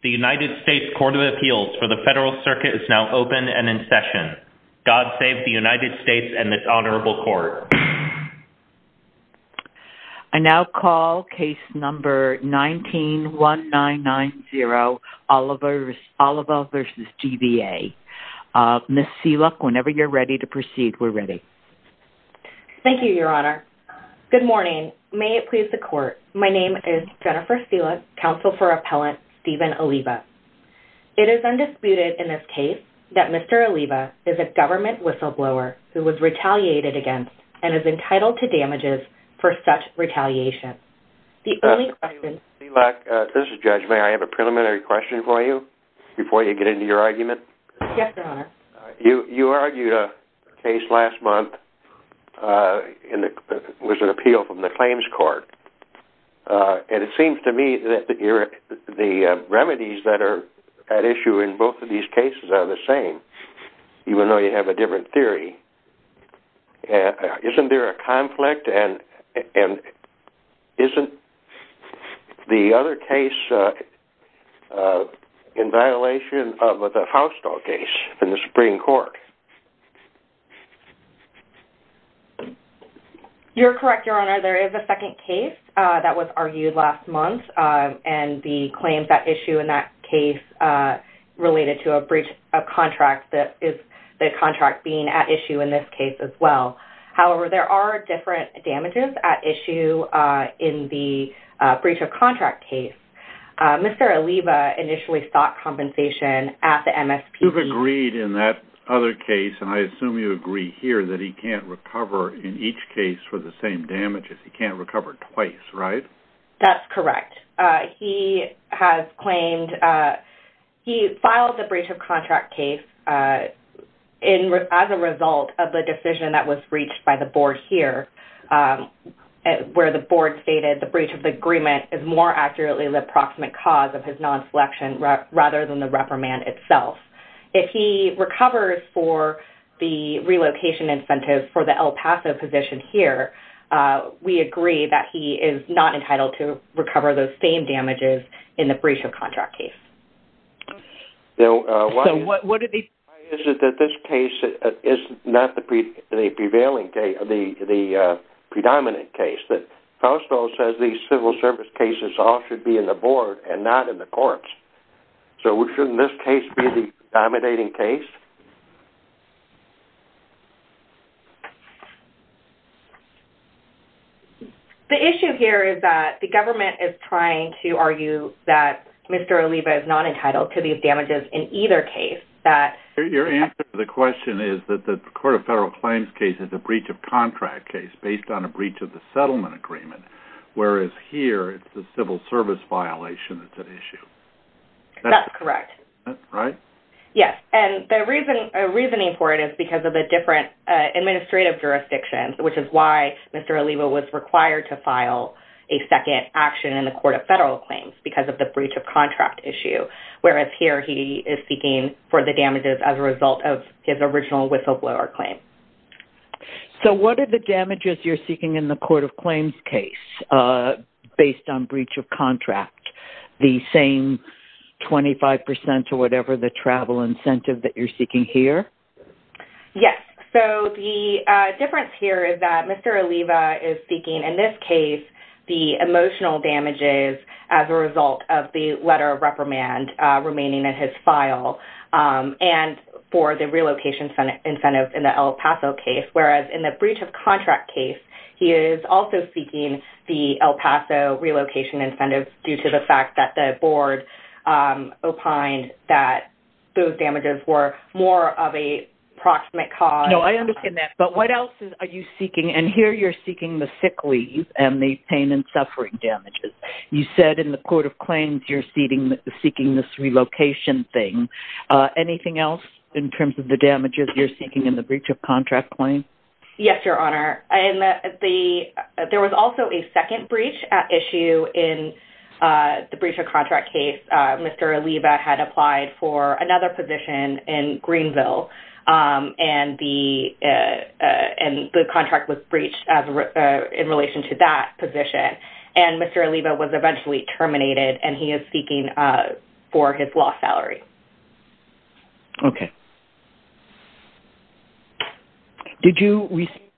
The United States Court of Appeals for the Federal Circuit is now open and in session. God save the United States and this Honorable Court. I now call case number 19-1990, Oliva v. DVA. Ms. Seeluck, whenever you're ready to proceed, we're ready. Thank you, Your Honor. Good morning. May it please the Court, my name is Jennifer Seeluck, Counsel for Appellant Stephen Oliva. It is undisputed in this case that Mr. Oliva is a government whistleblower who was retaliated against and is entitled to damages for such retaliation. The only question... Ms. Seeluck, this is Judge, may I have a preliminary question for you before you get into your argument? Yes, Your Honor. You argued a case last month with an appeal from the Claims Court. And it seems to me that the remedies that are at issue in both of these cases are the same, even though you have a different theory. Isn't there a conflict? And isn't the other case in violation of the Hausdall case in the Supreme Court? You're correct, Your Honor. There is a second case that was argued last month, and the claims at issue in that case related to a breach of contract that is the contract being at issue in this case as well. However, there are different damages at issue in the breach of contract case. Mr. Oliva initially sought compensation at the MSPB... You've agreed in that other case, and I assume you agree here, that he can't recover in each case for the same damages. He can't recover twice, right? That's correct. He has claimed... He filed the breach of contract case as a result of the decision that was reached by the Board here, where the Board stated the breach of the agreement is more accurately the approximate cause of his non-selection rather than the reprimand itself. If he recovers for the relocation incentive for the El Paso position here, we agree that he is not entitled to recover those same damages in the breach of contract case. Why is it that this case is not the prevailing case, the predominant case? The House Bill says these civil service cases all should be in the Board and not in the courts. So shouldn't this case be the dominating case? The issue here is that the government is trying to argue that Mr. Oliva is not entitled to these damages in either case. Your answer to the question is that the Court of Federal Claims case is a breach of contract case based on a breach of the settlement agreement, whereas here it's the civil service violation that's at issue. That's correct. Right? Yes. And the reasoning for it is because of the different administrative jurisdictions, which is why Mr. Oliva was required to file a second action in the Court of Federal Claims because of the breach of contract issue, whereas here he is seeking for the damages as a result of his original whistleblower claim. So what are the damages you're seeking in the Court of Claims case based on breach of contract? The same 25% or whatever the travel incentive that you're seeking here? Yes. So the difference here is that Mr. Oliva is seeking, in this case, the emotional damages as a result of the letter of reprimand remaining in his file and for the relocation incentives in the El Paso case, whereas in the breach of contract case, he is also seeking the El Paso relocation incentives due to the fact that the board opined that those damages were more of a proximate cause. No, I understand that. But what else are you seeking? And here you're seeking the sick leave and the pain and suffering damages. You said in the Court of Claims you're seeking this relocation thing. Anything else in terms of the damages you're seeking in the breach of contract claim? Yes, Your Honor. And there was also a second breach issue in the breach of contract case. Mr. Oliva had applied for another position in Greenville, and the contract was breached in relation to that position. And Mr. Oliva was eventually terminated, and he is seeking for his lost salary. Okay. Okay. Did you respond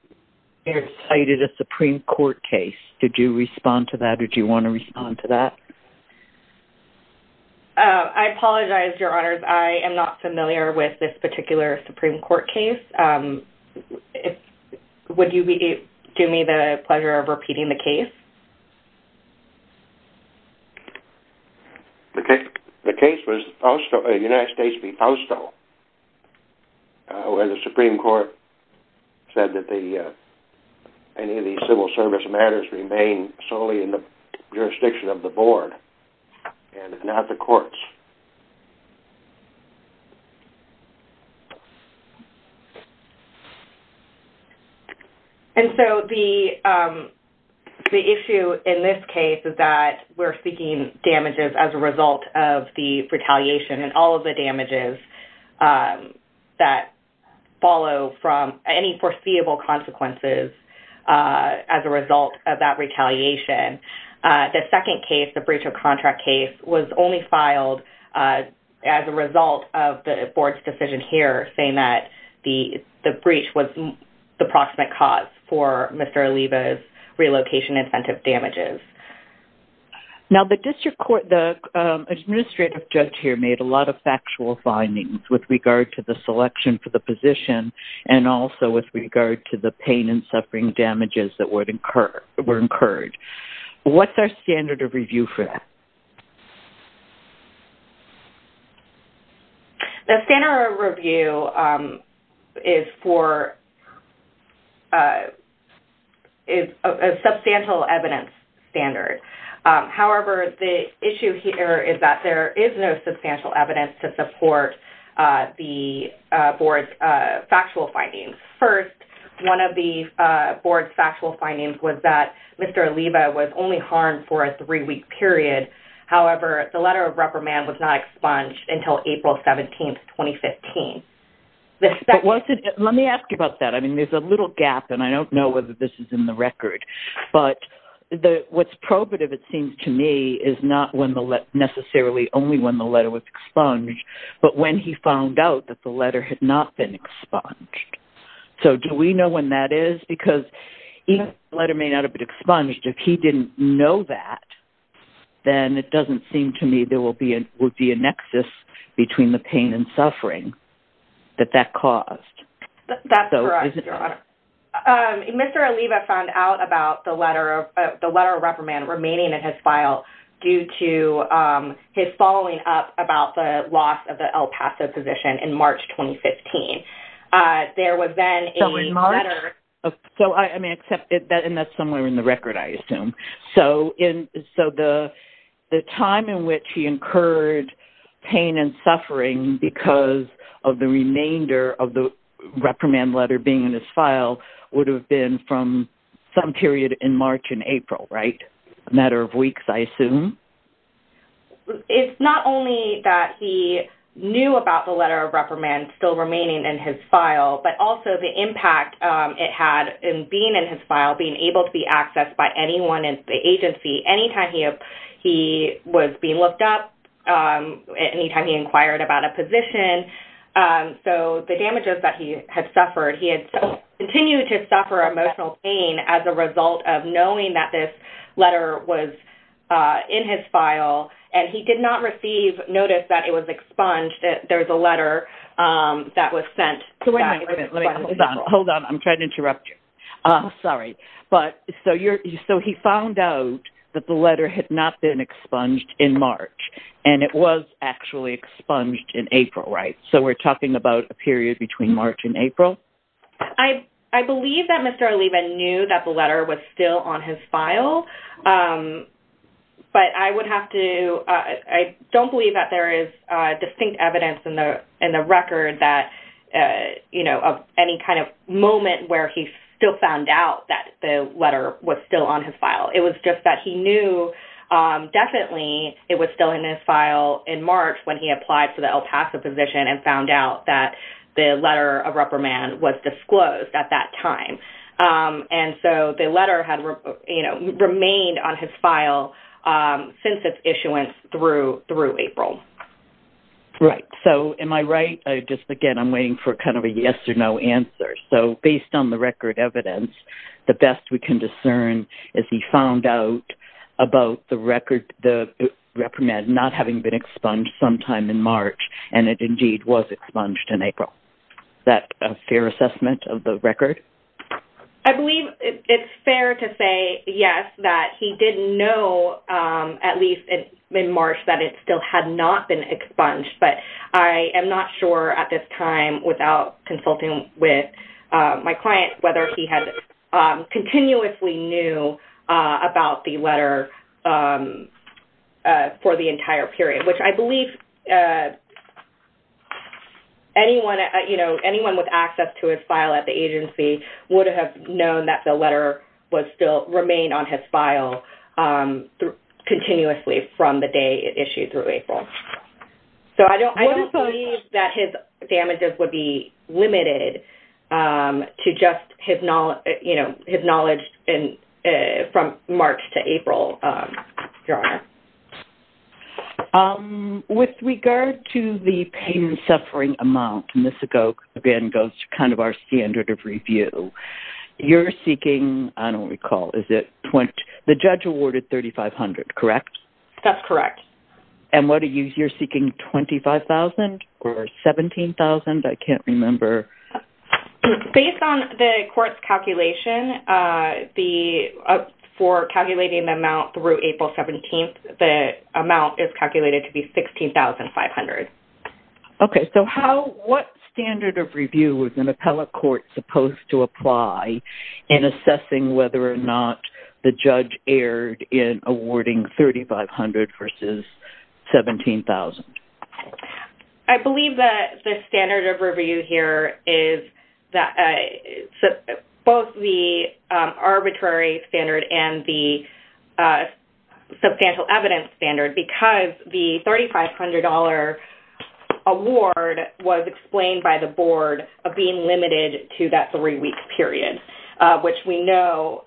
to the Supreme Court case? Did you respond to that? Did you want to respond to that? I apologize, Your Honors. I am not familiar with this particular Supreme Court case. Would you do me the pleasure of repeating the case? The case was United States v. Fausto, where the Supreme Court said that any of these civil service matters remain solely in the jurisdiction of the board and not the courts. And so the issue in this case is that we're seeking damages as a result of the retaliation and all of the damages that follow from any foreseeable consequences as a result of that retaliation. The second case, the breach of contract case, was only filed as a result of the board's decision here, saying that the breach was the proximate cause for Mr. Oliva's relocation incentive damages. Now, the administrative judge here made a lot of factual findings with regard to the selection for the position and also with regard to the pain and suffering damages that were incurred. What's our standard of review for that? The standard of review is a substantial evidence standard. However, the issue here is that there is no substantial evidence to support the board's factual findings. First, one of the board's factual findings was that Mr. Oliva was only harmed for a three-week period. However, the letter of reprimand was not expunged until April 17, 2015. Let me ask you about that. I mean, there's a little gap, and I don't know whether this is in the record. But what's probative, it seems to me, is not necessarily only when the letter was expunged, but when he found out that the letter had not been expunged. So do we know when that is? Because each letter may not have been expunged. If he didn't know that, then it doesn't seem to me there would be a nexus between the pain and suffering that that caused. That's correct, Your Honor. Mr. Oliva found out about the letter of reprimand remaining in his file due to his following up about the loss of the El Paso position in March 2015. There was then a letter... And that's somewhere in the record, I assume. So the time in which he incurred pain and suffering because of the remainder of the reprimand letter being in his file would have been from some period in March and April, right? A matter of weeks, I assume? It's not only that he knew about the letter of reprimand still remaining in his file, but also the impact it had in being in his file, being able to be accessed by anyone in the agency any time he was being looked up, any time he inquired about a position. So the damages that he had suffered, he had continued to suffer emotional pain as a result of knowing that this letter was in his file, and he did not receive notice that it was expunged, that there was a letter that was sent. Hold on. I'm trying to interrupt you. Sorry. So he found out that the letter had not been expunged in March, and it was actually expunged in April, right? So we're talking about a period between March and April? I believe that Mr. Oliva knew that the letter was still on his file, but I don't believe that there is distinct evidence in the record of any kind of moment where he still found out that the letter was still on his file. It was just that he knew definitely it was still in his file in March when he applied for the El Paso position and found out that the letter of reprimand was disclosed at that time. And so the letter had remained on his file since its issuance through April. Right. So am I right? Again, I'm waiting for kind of a yes or no answer. So based on the record evidence, the best we can discern is he found out about the reprimand not having been expunged sometime in March, and it indeed was expunged in April. Is that a fair assessment of the record? I believe it's fair to say yes, that he did know at least in March that it still had not been expunged, but I am not sure at this time without consulting with my client whether he had continuously knew about the letter for the entire period, which I believe anyone with access to his file at the agency would have known that the letter remained on his file continuously from the day it issued through April. So I don't believe that his damages would be limited With regard to the pain and suffering amount, and this again goes to kind of our standard of review, you're seeking, I don't recall, the judge awarded $3,500, correct? That's correct. And you're seeking $25,000 or $17,000? I can't remember. Based on the court's calculation, for calculating the amount through April 17th, the amount is calculated to be $16,500. Okay. So what standard of review was an appellate court supposed to apply in assessing whether or not the judge erred in awarding $3,500 versus $17,000? I believe that the standard of review here is both the arbitrary standard and the substantial evidence standard because the $3,500 award was explained by the board of being limited to that three-week period, which we know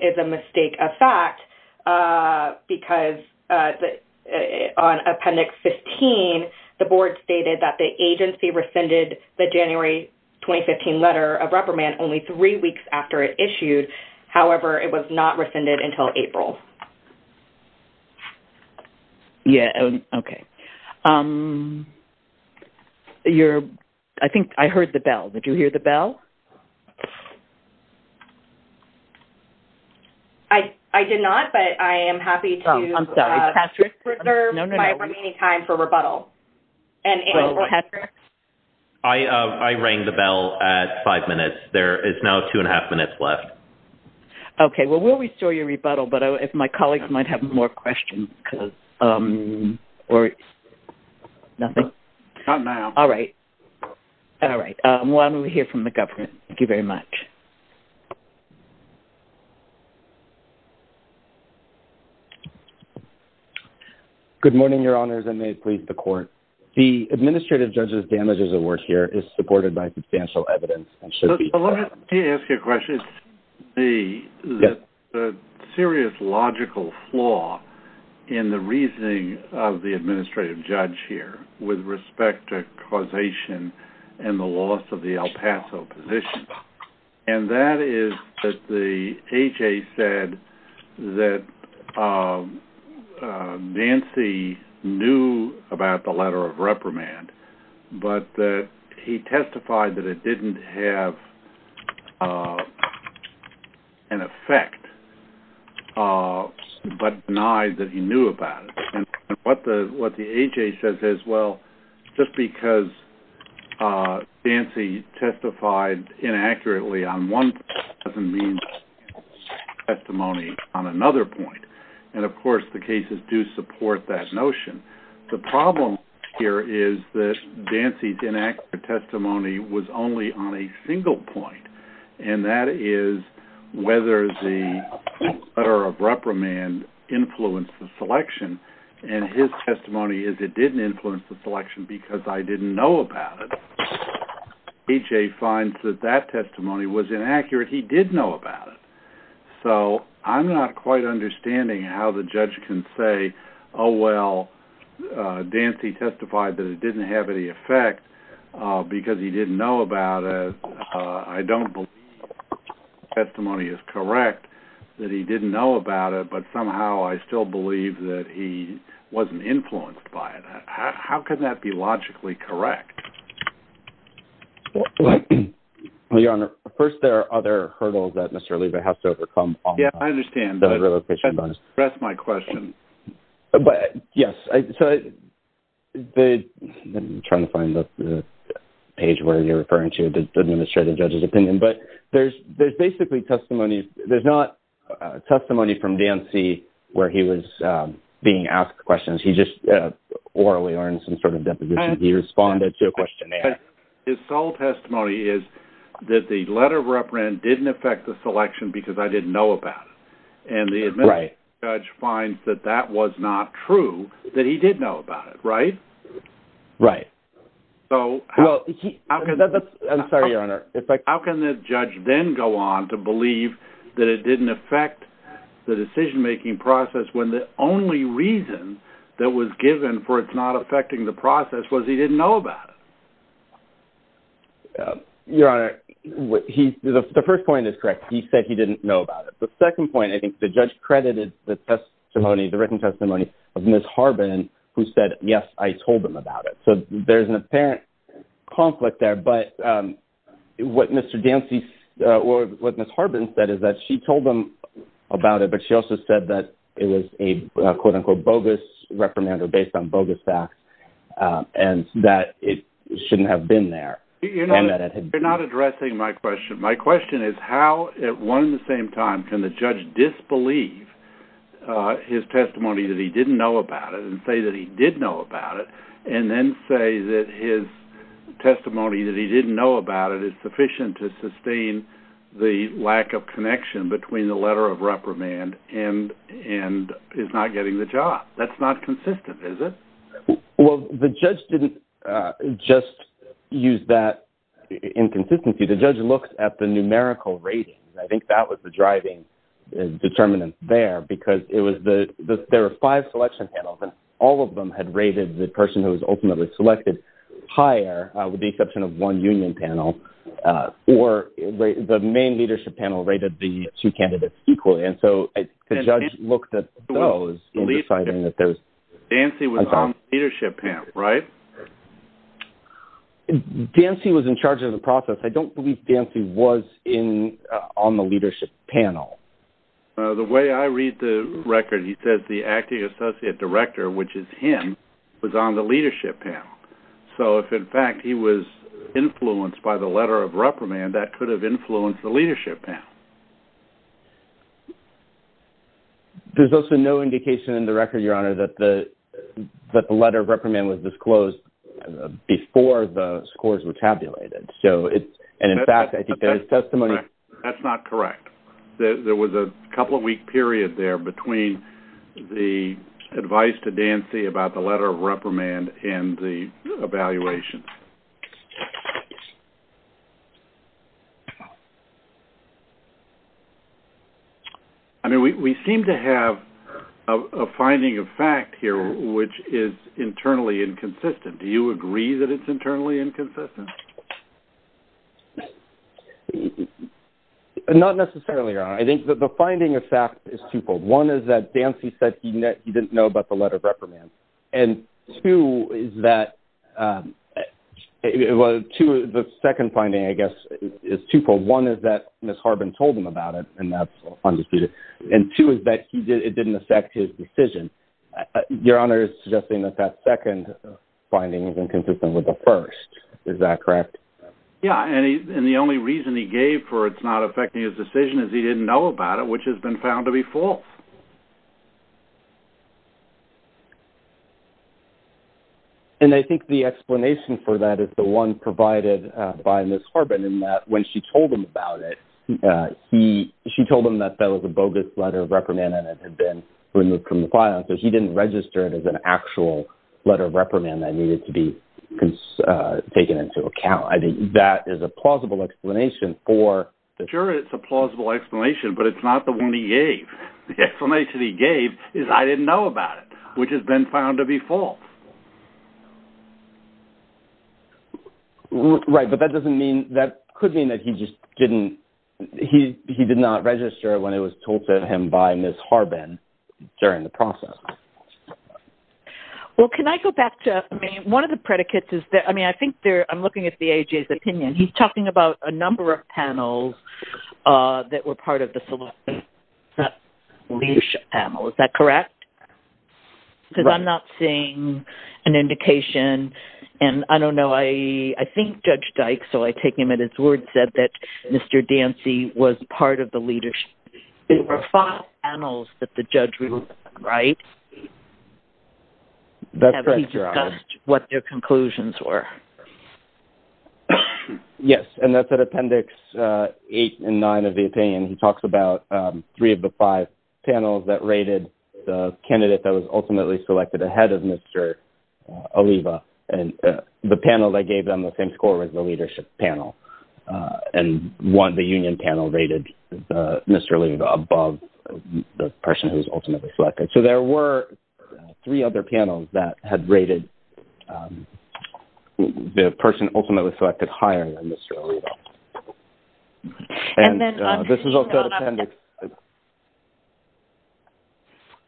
is a mistake of fact because on Appendix 15, the board stated that the agency rescinded the January 2015 letter of reprimand only three weeks after it issued. However, it was not rescinded until April. Okay. I think I heard the bell. Did you hear the bell? I did not, but I am happy to reserve my remaining time for rebuttal. I rang the bell at five minutes. There is now two-and-a-half minutes left. Okay. Well, we'll restore your rebuttal, but if my colleagues might have more questions. Nothing? Not now. All right. All right. Why don't we hear from the government? Thank you very much. Good morning, Your Honors, and may it please the Court. The administrative judge's damages award here is supported by substantial evidence. Let me ask you a question. The serious logical flaw in the reasoning of the administrative judge here with respect to causation and the loss of the El Paso position, and that is that the HA said that Nancy knew about the letter of reprimand, but he testified that it didn't have an effect, but denied that he knew about it. And what the HA says is, well, just because Nancy testified inaccurately on one point doesn't mean that she has testimony on another point. And, of course, the cases do support that notion. The problem here is that Nancy's inaccurate testimony was only on a single point, and that is whether the letter of reprimand influenced the selection, and his testimony is it didn't influence the selection because I didn't know about it. HA finds that that testimony was inaccurate. He did know about it. So I'm not quite understanding how the judge can say, oh, well, Nancy testified that it didn't have any effect because he didn't know about it. I don't believe his testimony is correct that he didn't know about it, but somehow I still believe that he wasn't influenced by it. How can that be logically correct? Well, Your Honor, first there are other hurdles that Mr. Oliva has to overcome. Yes, I understand, but that's my question. Yes. I'm trying to find the page where you're referring to the administrative judge's opinion, but there's basically testimony. There's not testimony from Nancy where he was being asked questions. He just orally or in some sort of deposition. He responded to a questionnaire. His sole testimony is that the letter of reprimand didn't affect the selection because I didn't know about it, and the administrative judge finds that that was not true, that he did know about it, right? Right. I'm sorry, Your Honor. How can the judge then go on to believe that it didn't affect the decision-making process when the only reason that was given for it not affecting the process was he didn't know about it? Your Honor, the first point is correct. He said he didn't know about it. The second point, I think the judge credited the written testimony of Ms. Harbin who said, yes, I told them about it. So there's an apparent conflict there, but what Ms. Harbin said is that she told them about it, but she also said that it was a quote-unquote bogus reprimand or based on bogus facts and that it shouldn't have been there and that it had been. You're not addressing my question. My question is how at one and the same time can the judge disbelieve his testimony that he didn't know about it and say that he did know about it and then say that his testimony that he didn't know about it is sufficient to sustain the lack of connection between the letter of reprimand and his not getting the job? That's not consistent, is it? Well, the judge didn't just use that inconsistency. The judge looked at the numerical rating. I think that was the driving determinant there because there were five selection panels and all of them had rated the person who was ultimately selected higher with the exception of one union panel or the main leadership panel rated the two candidates equally, and so the judge looked at those in deciding that there was... Dancy was on the leadership panel, right? Dancy was in charge of the process. I don't believe Dancy was on the leadership panel. The way I read the record, he says the acting associate director, which is him, was on the leadership panel. So if, in fact, he was influenced by the letter of reprimand, that could have influenced the leadership panel. There's also no indication in the record, Your Honor, that the letter of reprimand was disclosed before the scores were tabulated. And, in fact, I think that his testimony... That's not correct. There was a couple-week period there between the advice to Dancy about the letter of reprimand and the evaluation. I mean, we seem to have a finding of fact here which is internally inconsistent. Do you agree that it's internally inconsistent? Not necessarily, Your Honor. I think that the finding of fact is twofold. One is that Dancy said he didn't know about the letter of reprimand. And two is that the second finding, I guess, is twofold. One is that Ms. Harbin told him about it, and that's undisputed. And two is that it didn't affect his decision. Your Honor is suggesting that that second finding is inconsistent with the first. Is that correct? Yeah, and the only reason he gave for it not affecting his decision is he didn't know about it, which has been found to be false. And I think the explanation for that is the one provided by Ms. Harbin in that when she told him about it, she told him that that was a bogus letter of reprimand and it had been removed from the file, so he didn't register it as an actual letter of reprimand that needed to be taken into account. I think that is a plausible explanation for this. Sure, it's a plausible explanation, but it's not the one he gave. The explanation he gave is I didn't know about it, which has been found to be false. Right, but that doesn't mean, that could mean that he just didn't, he did not register when it was told to him by Ms. Harbin during the process. Well, can I go back to, I mean, one of the predicates is that, I mean, I think there, I'm looking at the AHA's opinion. He's talking about a number of panels that were part of the solicitation panel. Is that correct? Because I'm not seeing an indication, and I don't know, I think Judge Dykes, so I take him at his word, said that Mr. Dancy was part of the leadership. There were five panels that the judge wrote, right? That's correct, Your Honor. Have he discussed what their conclusions were? Yes, and that's at Appendix 8 and 9 of the opinion. He talks about three of the five panels that rated the candidate that was ultimately selected ahead of Mr. Oliva, and the panel that gave them the same score was the leadership panel, and one, the union panel, rated Mr. Oliva above the person who was ultimately selected. So there were three other panels that had rated the person ultimately selected higher than Mr. Oliva. And this is also at Appendix 8.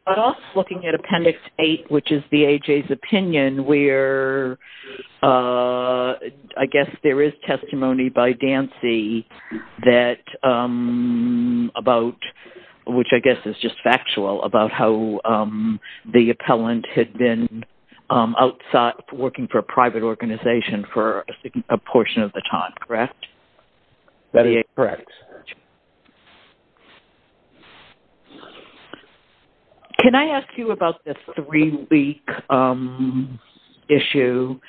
I'm also looking at Appendix 8, which is the AHA's opinion, where I guess there is testimony by Dancy that about, which I guess is just factual, about how the appellant had been outside working for a private organization for a portion of the time, correct? That is correct. Can I ask you about the three-week issue?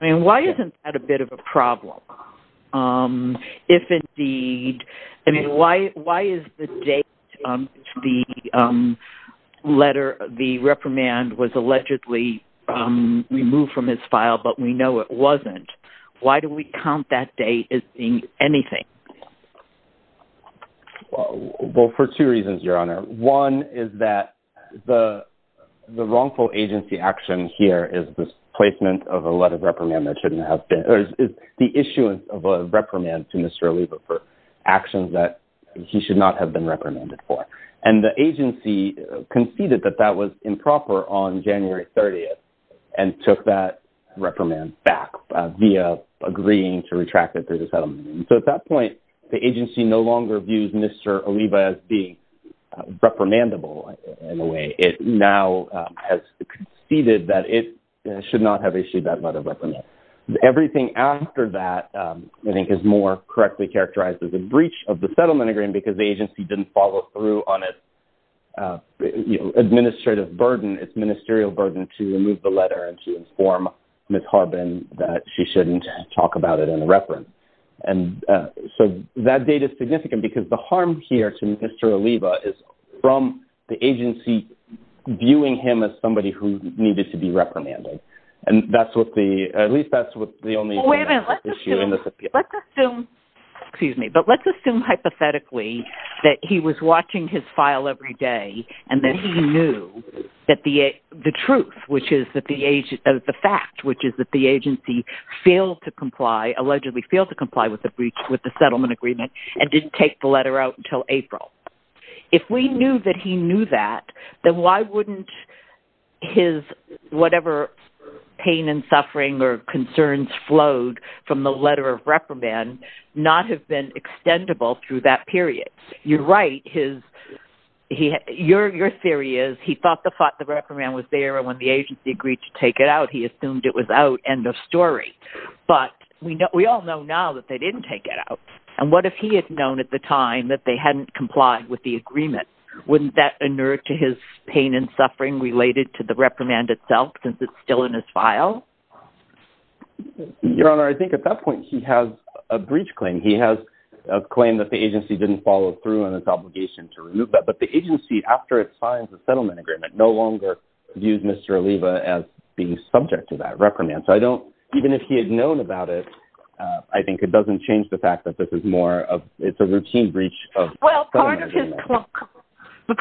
I mean, why isn't that a bit of a problem? If indeed, I mean, why is the date of the letter, the reprimand was allegedly removed from his file, but we know it wasn't, why do we count that date as being anything? Well, for two reasons, Your Honor. One is that the wrongful agency action here is the placement of a letter of reprimand that shouldn't have been, or is the issuance of a letter of reprimand to Mr. Oliva for actions that he should not have been reprimanded for. And the agency conceded that that was improper on January 30th and took that reprimand back via agreeing to retract it through the settlement. So at that point, the agency no longer views Mr. Oliva as being reprimandable in a way. It now has conceded that it should not have issued that letter of reprimand. Everything after that, I think, is more correctly characterized as a breach of the settlement agreement because the agency didn't follow through on its administrative burden, its ministerial burden to remove the letter and to inform Ms. Harbin that she shouldn't talk about it in a reprimand. And so that date is significant because the harm here to Mr. Oliva is from the agency viewing him as somebody who needed to be reprimanded. And that's what the, at least that's what the only issue in this appeal. Let's assume, excuse me, but let's assume hypothetically that he was watching his file every day and that he knew that the truth, which is that the fact, which is that the agency failed to comply, allegedly failed to comply with the breach, with the settlement agreement and didn't take the letter out until April. If we knew that he knew that, then why wouldn't his whatever pain and suffering or concerns flowed from the letter of reprimand not have been extendable through that period? You're right. Your theory is he thought the reprimand was there and when the agency agreed to take it out, he assumed it was out. End of story. But we all know now that they didn't take it out. And what if he had known at the time that they hadn't complied with the agreement? Wouldn't that inure to his pain and suffering related to the reprimand itself since it's still in his file? Your Honor, I think at that point he has a breach claim. He has a claim that the agency didn't follow through on its obligation to remove that. But the agency, after it signs the settlement agreement, no longer views Mr. Oliva as being subject to that reprimand. So I don't, even if he had known about it, I think it doesn't change the fact that this is more of, it's a routine breach of settlement agreement. Well,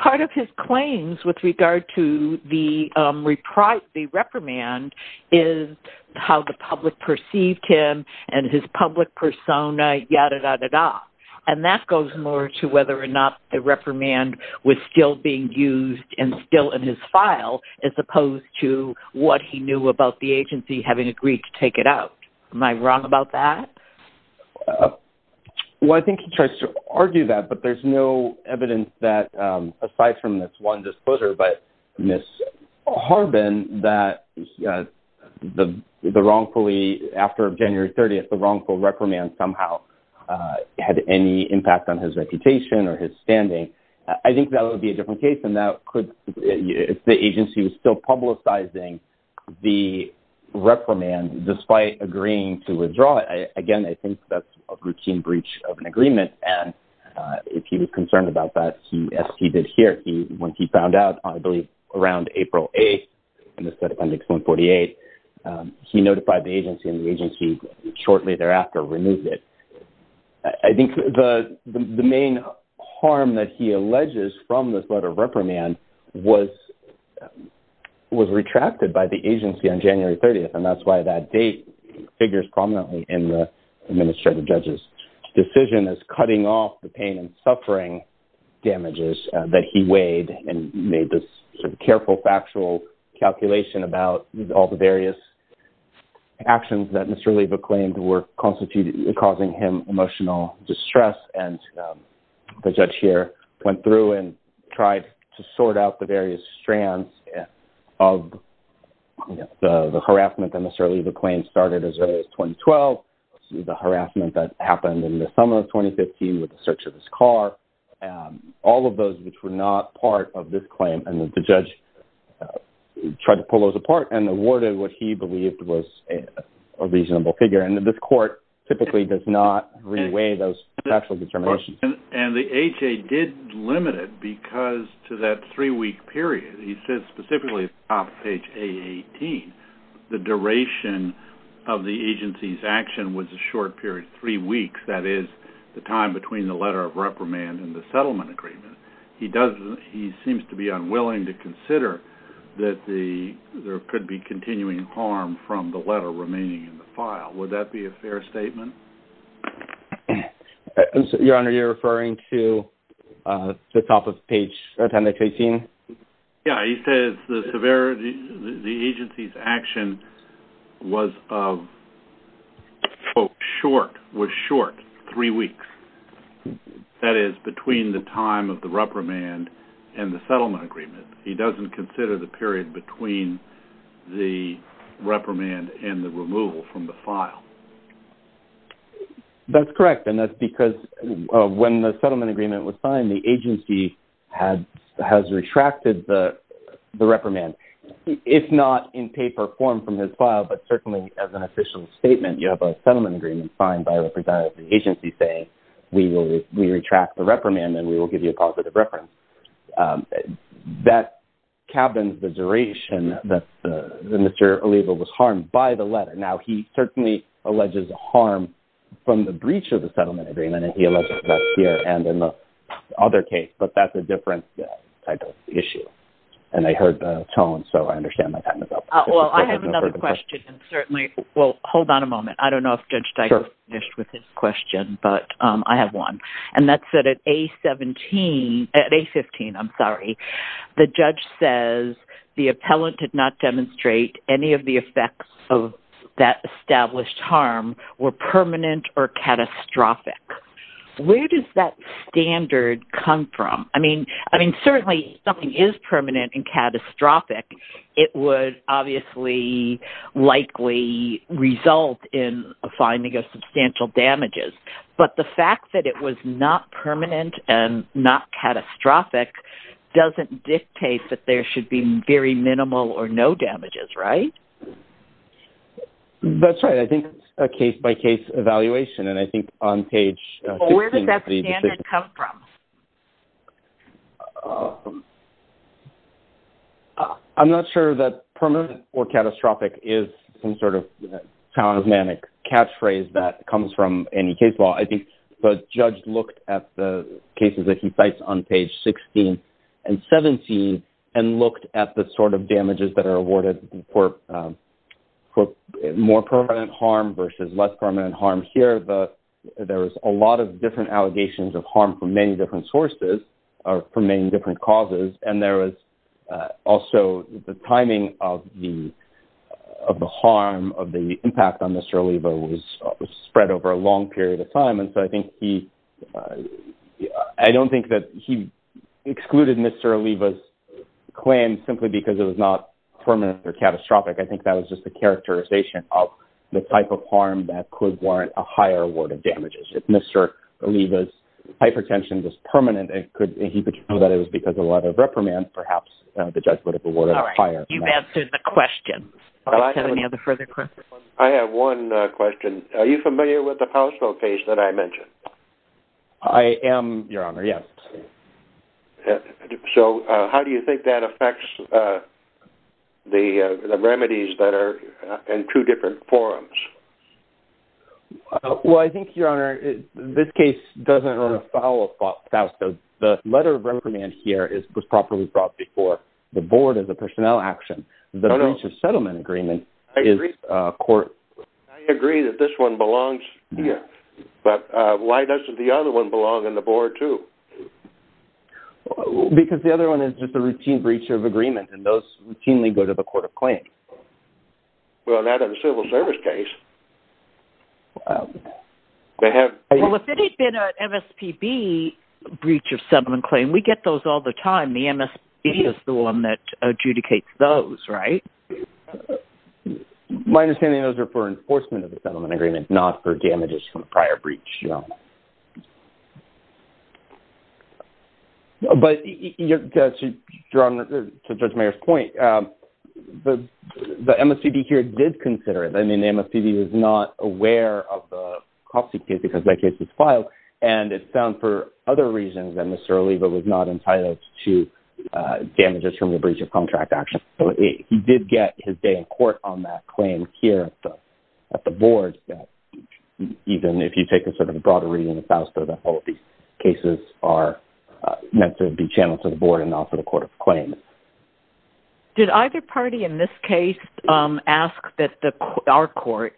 part of his claims with regard to the reprimand is how the public perceived him and his public persona, ya-da-da-da-da, and that goes more to whether or not the reprimand was still being used and still in his file as opposed to what he knew about the agency having agreed to take it out. Am I wrong about that? Well, I think he tries to argue that, but there's no evidence that, aside from this one disclosure by Ms. Harbin, that the wrongfully, after January 30th, the wrongful reprimand somehow had any impact on his reputation or his standing. I think that would be a different case, and that could, if the agency was still publicizing the reprimand, despite agreeing to withdraw it, again, I think that's a routine breach of an agreement, and if he was concerned about that, as he did here, when he found out, I believe, around April 8th, in the Fed Appendix 148, he notified the agency, and the agency shortly thereafter removed it. I think the main harm that he alleges from this letter of reprimand was retracted by the agency on January 30th, and that's why that date figures prominently in the administrative judge's decision as cutting off the pain and suffering damages that he weighed and made this careful factual calculation about all the various actions that Mr. Oliva claimed were causing him emotional distress, and the judge here went through and tried to sort out the various strands of the harassment that Mr. Oliva claimed started as early as 2012, the harassment that happened in the summer of 2015 with the search of his car, all of those which were not part of this claim, and the judge tried to pull those apart and awarded what he believed was a reasonable figure, and this court typically does not re-weigh those factual determinations. And the HA did limit it because to that three-week period, he says specifically at the top of page A18, the duration of the agency's action was a short period, three weeks, that is the time between the letter of reprimand and the settlement agreement. He seems to be unwilling to consider that there could be continuing harm from the letter remaining in the file. Would that be a fair statement? Your Honor, you're referring to the top of page A18? Yeah, he says the agency's action was of, quote, short, was short, three weeks, that is between the time of the reprimand and the settlement agreement. He doesn't consider the period between the reprimand and the removal from the file. That's correct, and that's because when the settlement agreement was signed, the agency has retracted the reprimand. It's not in paper form from his file, but certainly as an official statement, you have a settlement agreement signed by a representative of the agency saying, we retract the reprimand and we will give you a positive reference. That cabins the duration that Mr. Olivo was harmed by the letter. Now, he certainly alleges harm from the breach of the settlement agreement, and he alleges that here and in the other case, but that's a different type of issue. And I heard the tone, so I understand my time is up. Well, I have another question, and certainly, well, hold on a moment. I don't know if Judge Steiger finished with his question, but I have one, and that's that at A15, the judge says the appellant did not demonstrate any of the effects of that established harm were permanent or catastrophic. Where does that standard come from? I mean, certainly, if something is permanent and catastrophic, it would obviously likely result in a finding of substantial damages, but the fact that it was not permanent and not catastrophic doesn't dictate that there should be very minimal or no damages, right? That's right. I think it's a case-by-case evaluation, and I think on page 16. Well, where does that standard come from? I'm not sure that permanent or catastrophic is some sort of charismatic catchphrase that comes from any case law. I think the judge looked at the cases that he cites on page 16 and 17 and looked at the sort of damages that are awarded for more permanent harm versus less permanent harm. Here, there was a lot of different allegations of harm from many different sources or from many different causes, and there was also the timing of the harm, of the impact on Mr. Oliva was spread over a long period of time, and so I don't think that he excluded Mr. Oliva's claim simply because it was not permanent or catastrophic. I think that was just a characterization of the type of harm that could warrant a higher award of damages. If Mr. Oliva's hypertension was permanent and he could show that it was because of a lot of reprimand, perhaps the judge would have awarded a higher amount. All right. You've answered the question. Do you have any other further questions? I have one question. Are you familiar with the household case that I mentioned? I am, Your Honor, yes. So how do you think that affects the remedies that are in two different forms? Well, I think, Your Honor, this case doesn't follow Fausco. The letter of reprimand here was properly brought before the board as a personnel action. No, no. The arrangement settlement agreement is court. I agree that this one belongs here, but why doesn't the other one belong in the board too? Because the other one is just a routine breach of agreement, and those routinely go to the court of claim. Well, that is a civil service case. Well, if it had been an MSPB breach of settlement claim, we get those all the time. The MSPB is the one that adjudicates those, right? My understanding is those are for enforcement of the settlement agreement, not for damages from a prior breach, Your Honor. But, Your Honor, to Judge Mayer's point, the MSPB here did consider it. I mean, the MSPB was not aware of the COPC case because that case was filed, and it found for other reasons that Mr. Oliva was not entitled to damages from the breach of contract action. So he did get his day in court on that claim here at the board, even if you take a sort of a broader reason, as to how these cases are meant to be channeled to the board and also the court of claim. Did either party in this case ask that our court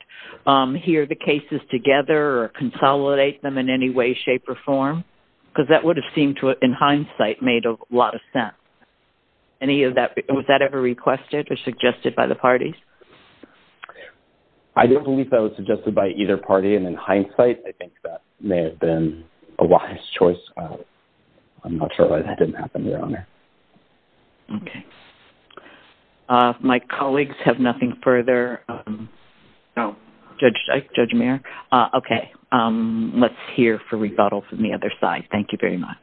hear the cases together or consolidate them in any way, shape, or form? Because that would have seemed to, in hindsight, made a lot of sense. Was that ever requested or suggested by the parties? I don't believe that was suggested by either party. And in hindsight, I think that may have been a wise choice. I'm not sure why that didn't happen, Your Honor. Okay. My colleagues have nothing further? No. Judge Mayer? Okay. Let's hear for rebuttals from the other side. Thank you very much.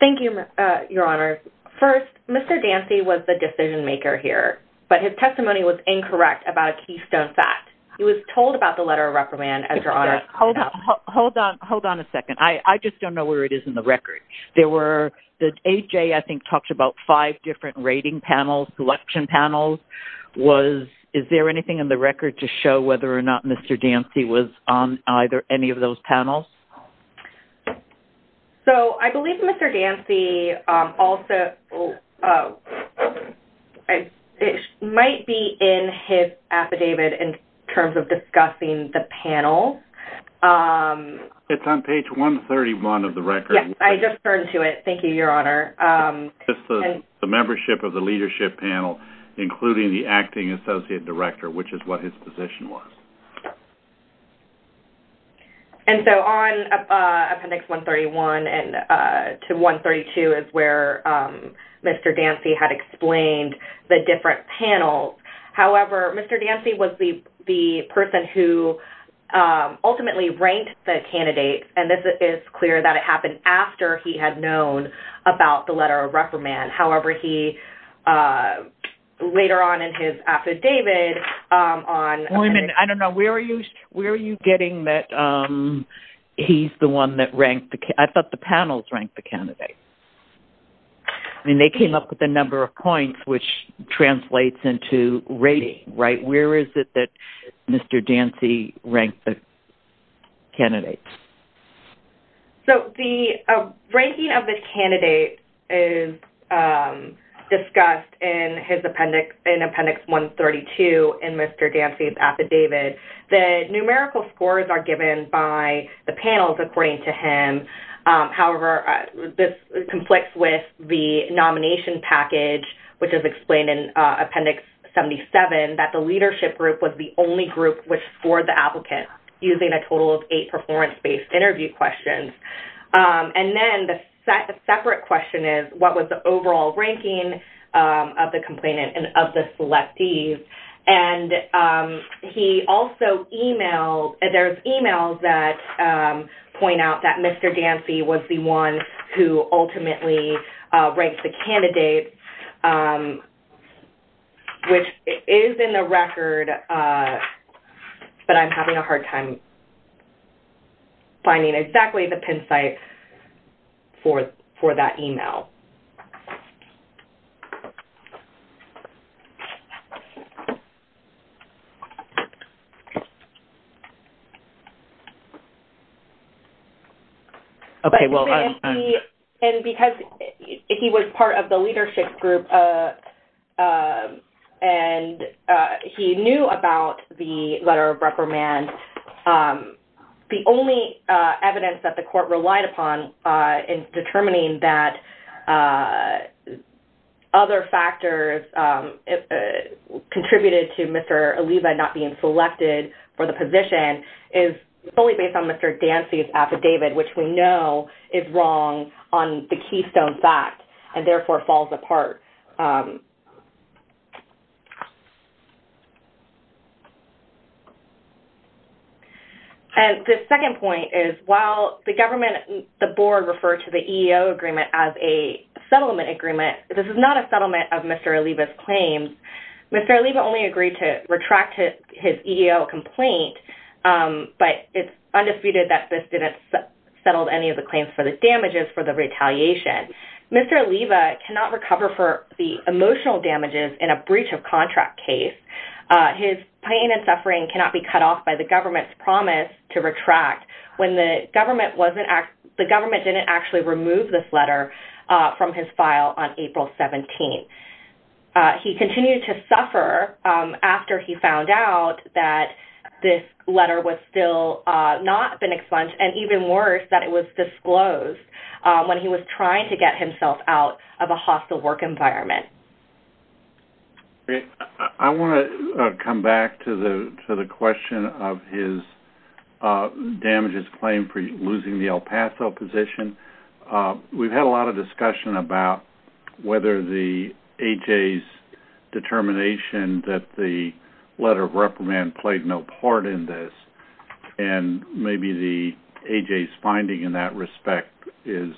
Thank you, Your Honor. First, Mr. Dancy was the decision-maker here, but his testimony was incorrect about a keystone fact. He was told about the letter of reprimand, as Your Honor pointed out. Hold on. Hold on a second. I just don't know where it is in the record. AJ, I think, talked about five different rating panels, selection panels. Is there anything in the record to show whether or not Mr. Dancy was on any of those panels? So, I believe Mr. Dancy also... It might be in his affidavit in terms of discussing the panel. It's on page 131 of the record. Yes. I just turned to it. Thank you, Your Honor. The membership of the leadership panel, including the acting associate director, which is what his position was. And so, on appendix 131 to 132 is where Mr. Dancy had explained the different panels. However, Mr. Dancy was the person who ultimately ranked the candidates, and this is clear that it happened after he had known about the letter of reprimand. However, he later on in his affidavit on... I don't know. Where are you getting that he's the one that ranked the... I thought the panels ranked the candidates. I mean, they came up with the number of points, which translates into rating, right? Where is it that Mr. Dancy ranked the candidates? So, the ranking of the candidate is discussed in appendix 132 in Mr. Dancy's affidavit. The numerical scores are given by the panels, according to him. However, this conflicts with the nomination package, which is explained in appendix 77, that the leadership group was the only group which scored the applicant, using a total of eight performance-based interview questions. And then, the separate question is, what was the overall ranking of the complainant and of the selectees? And he also emailed... There's emails that point out that Mr. Dancy was the one who ultimately ranked the candidates, which is in the record, but I'm having a hard time finding exactly the pin site for that email. Okay, well... And because he was part of the leadership group and he knew about the letter of reprimand, the only evidence that the court relied upon in determining that other factors contributed to Mr. Oliva not being selected for the position is fully based on Mr. Dancy's affidavit, which we know is wrong on the Keystone Fact, and therefore falls apart. And the second point is, while the government, the board, referred to the EEO agreement as a settlement agreement, this is not a settlement of Mr. Oliva's claims. Mr. Oliva only agreed to retract his EEO complaint, but it's undisputed that this didn't settle any of the claims for the damages for the retaliation. Mr. Oliva cannot recover for the emotional damages in a breach of contract case. His pain and suffering cannot be cut off by the government's promise to retract when the government didn't actually remove this letter from his file on April 17. He continued to suffer after he found out that this letter was still not been expunged, and even worse, that it was disclosed when he was trying to get himself out of a hostile work environment. I want to come back to the question of his damages claim for losing the El Paso position. We've had a lot of discussion about whether the A.J.'s determination that the letter of reprimand played no part in this, and maybe the A.J.'s finding in that respect is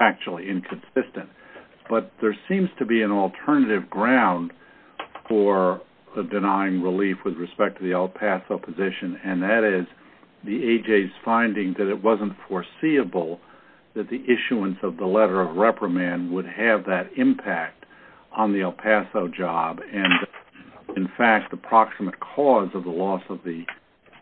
actually inconsistent. But there seems to be an alternative ground for denying relief with respect to the El Paso position, and that is the A.J.'s finding that it wasn't foreseeable that the issuance of the letter of reprimand would have that impact on the El Paso job, and in fact, the approximate cause of the loss of the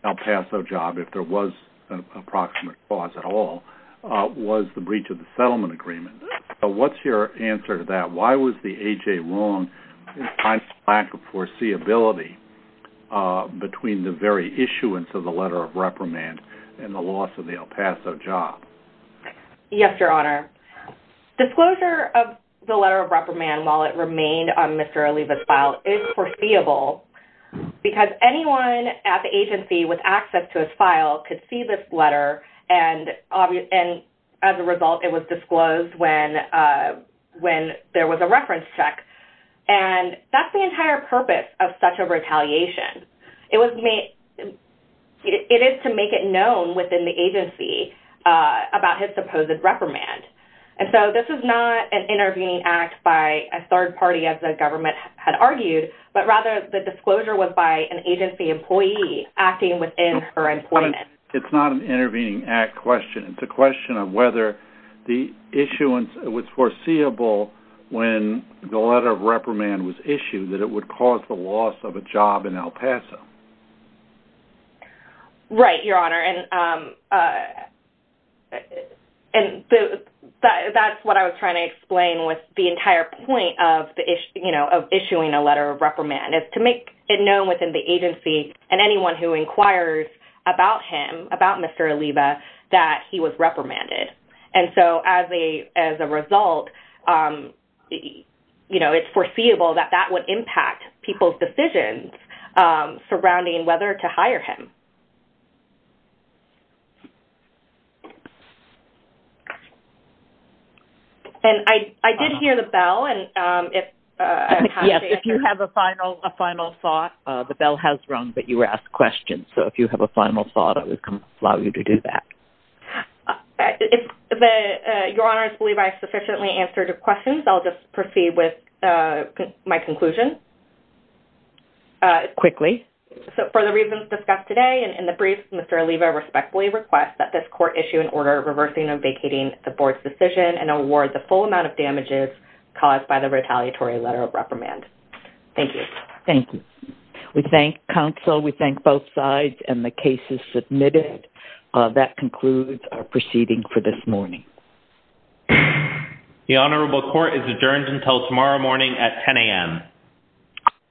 El Paso job, if there was an approximate cause at all, was the breach of the settlement agreement. What's your answer to that? Why was the A.J. wrong in finding a lack of foreseeability between the very issuance of the letter of reprimand and the loss of the El Paso job? Yes, Your Honor. Disclosure of the letter of reprimand while it remained on Mr. Oliva's file is foreseeable because anyone at the agency with access to his file could see this letter, and as a result, it was disclosed when there was a reference check. And that's the entire purpose of such a retaliation. It is to make it known within the agency about his supposed reprimand. And so this is not an intervening act by a third party, as the government had argued, but rather the disclosure was by an agency employee acting within her employment. It's not an intervening act question. It's a question of whether the issuance was foreseeable when the letter of reprimand was issued, that it would cause the loss of a job in El Paso. Right, Your Honor. That's what I was trying to explain with the entire point of issuing a letter of reprimand, is to make it known within the agency and anyone who inquires about him, about Mr. Oliva, that he was reprimanded. And so as a result, you know, it's foreseeable that that would impact people's decisions surrounding whether to hire him. And I did hear the bell, and if... Yes, if you have a final thought, the bell has rung, but you were asked questions. So if you have a final thought, I would allow you to do that. Your Honor, I believe I've sufficiently answered your questions. I'll just proceed with my conclusion. Quickly. So for the reasons discussed today and in the brief, Mr. Oliva respectfully requests that this court issue an order reversing and vacating the board's decision and award the full amount of damages caused by the retaliatory letter of reprimand. Thank you. Thank you. We thank counsel, we thank both sides, and the case is submitted. That concludes our proceeding for this morning. The Honorable Court is adjourned until tomorrow morning at 10 a.m.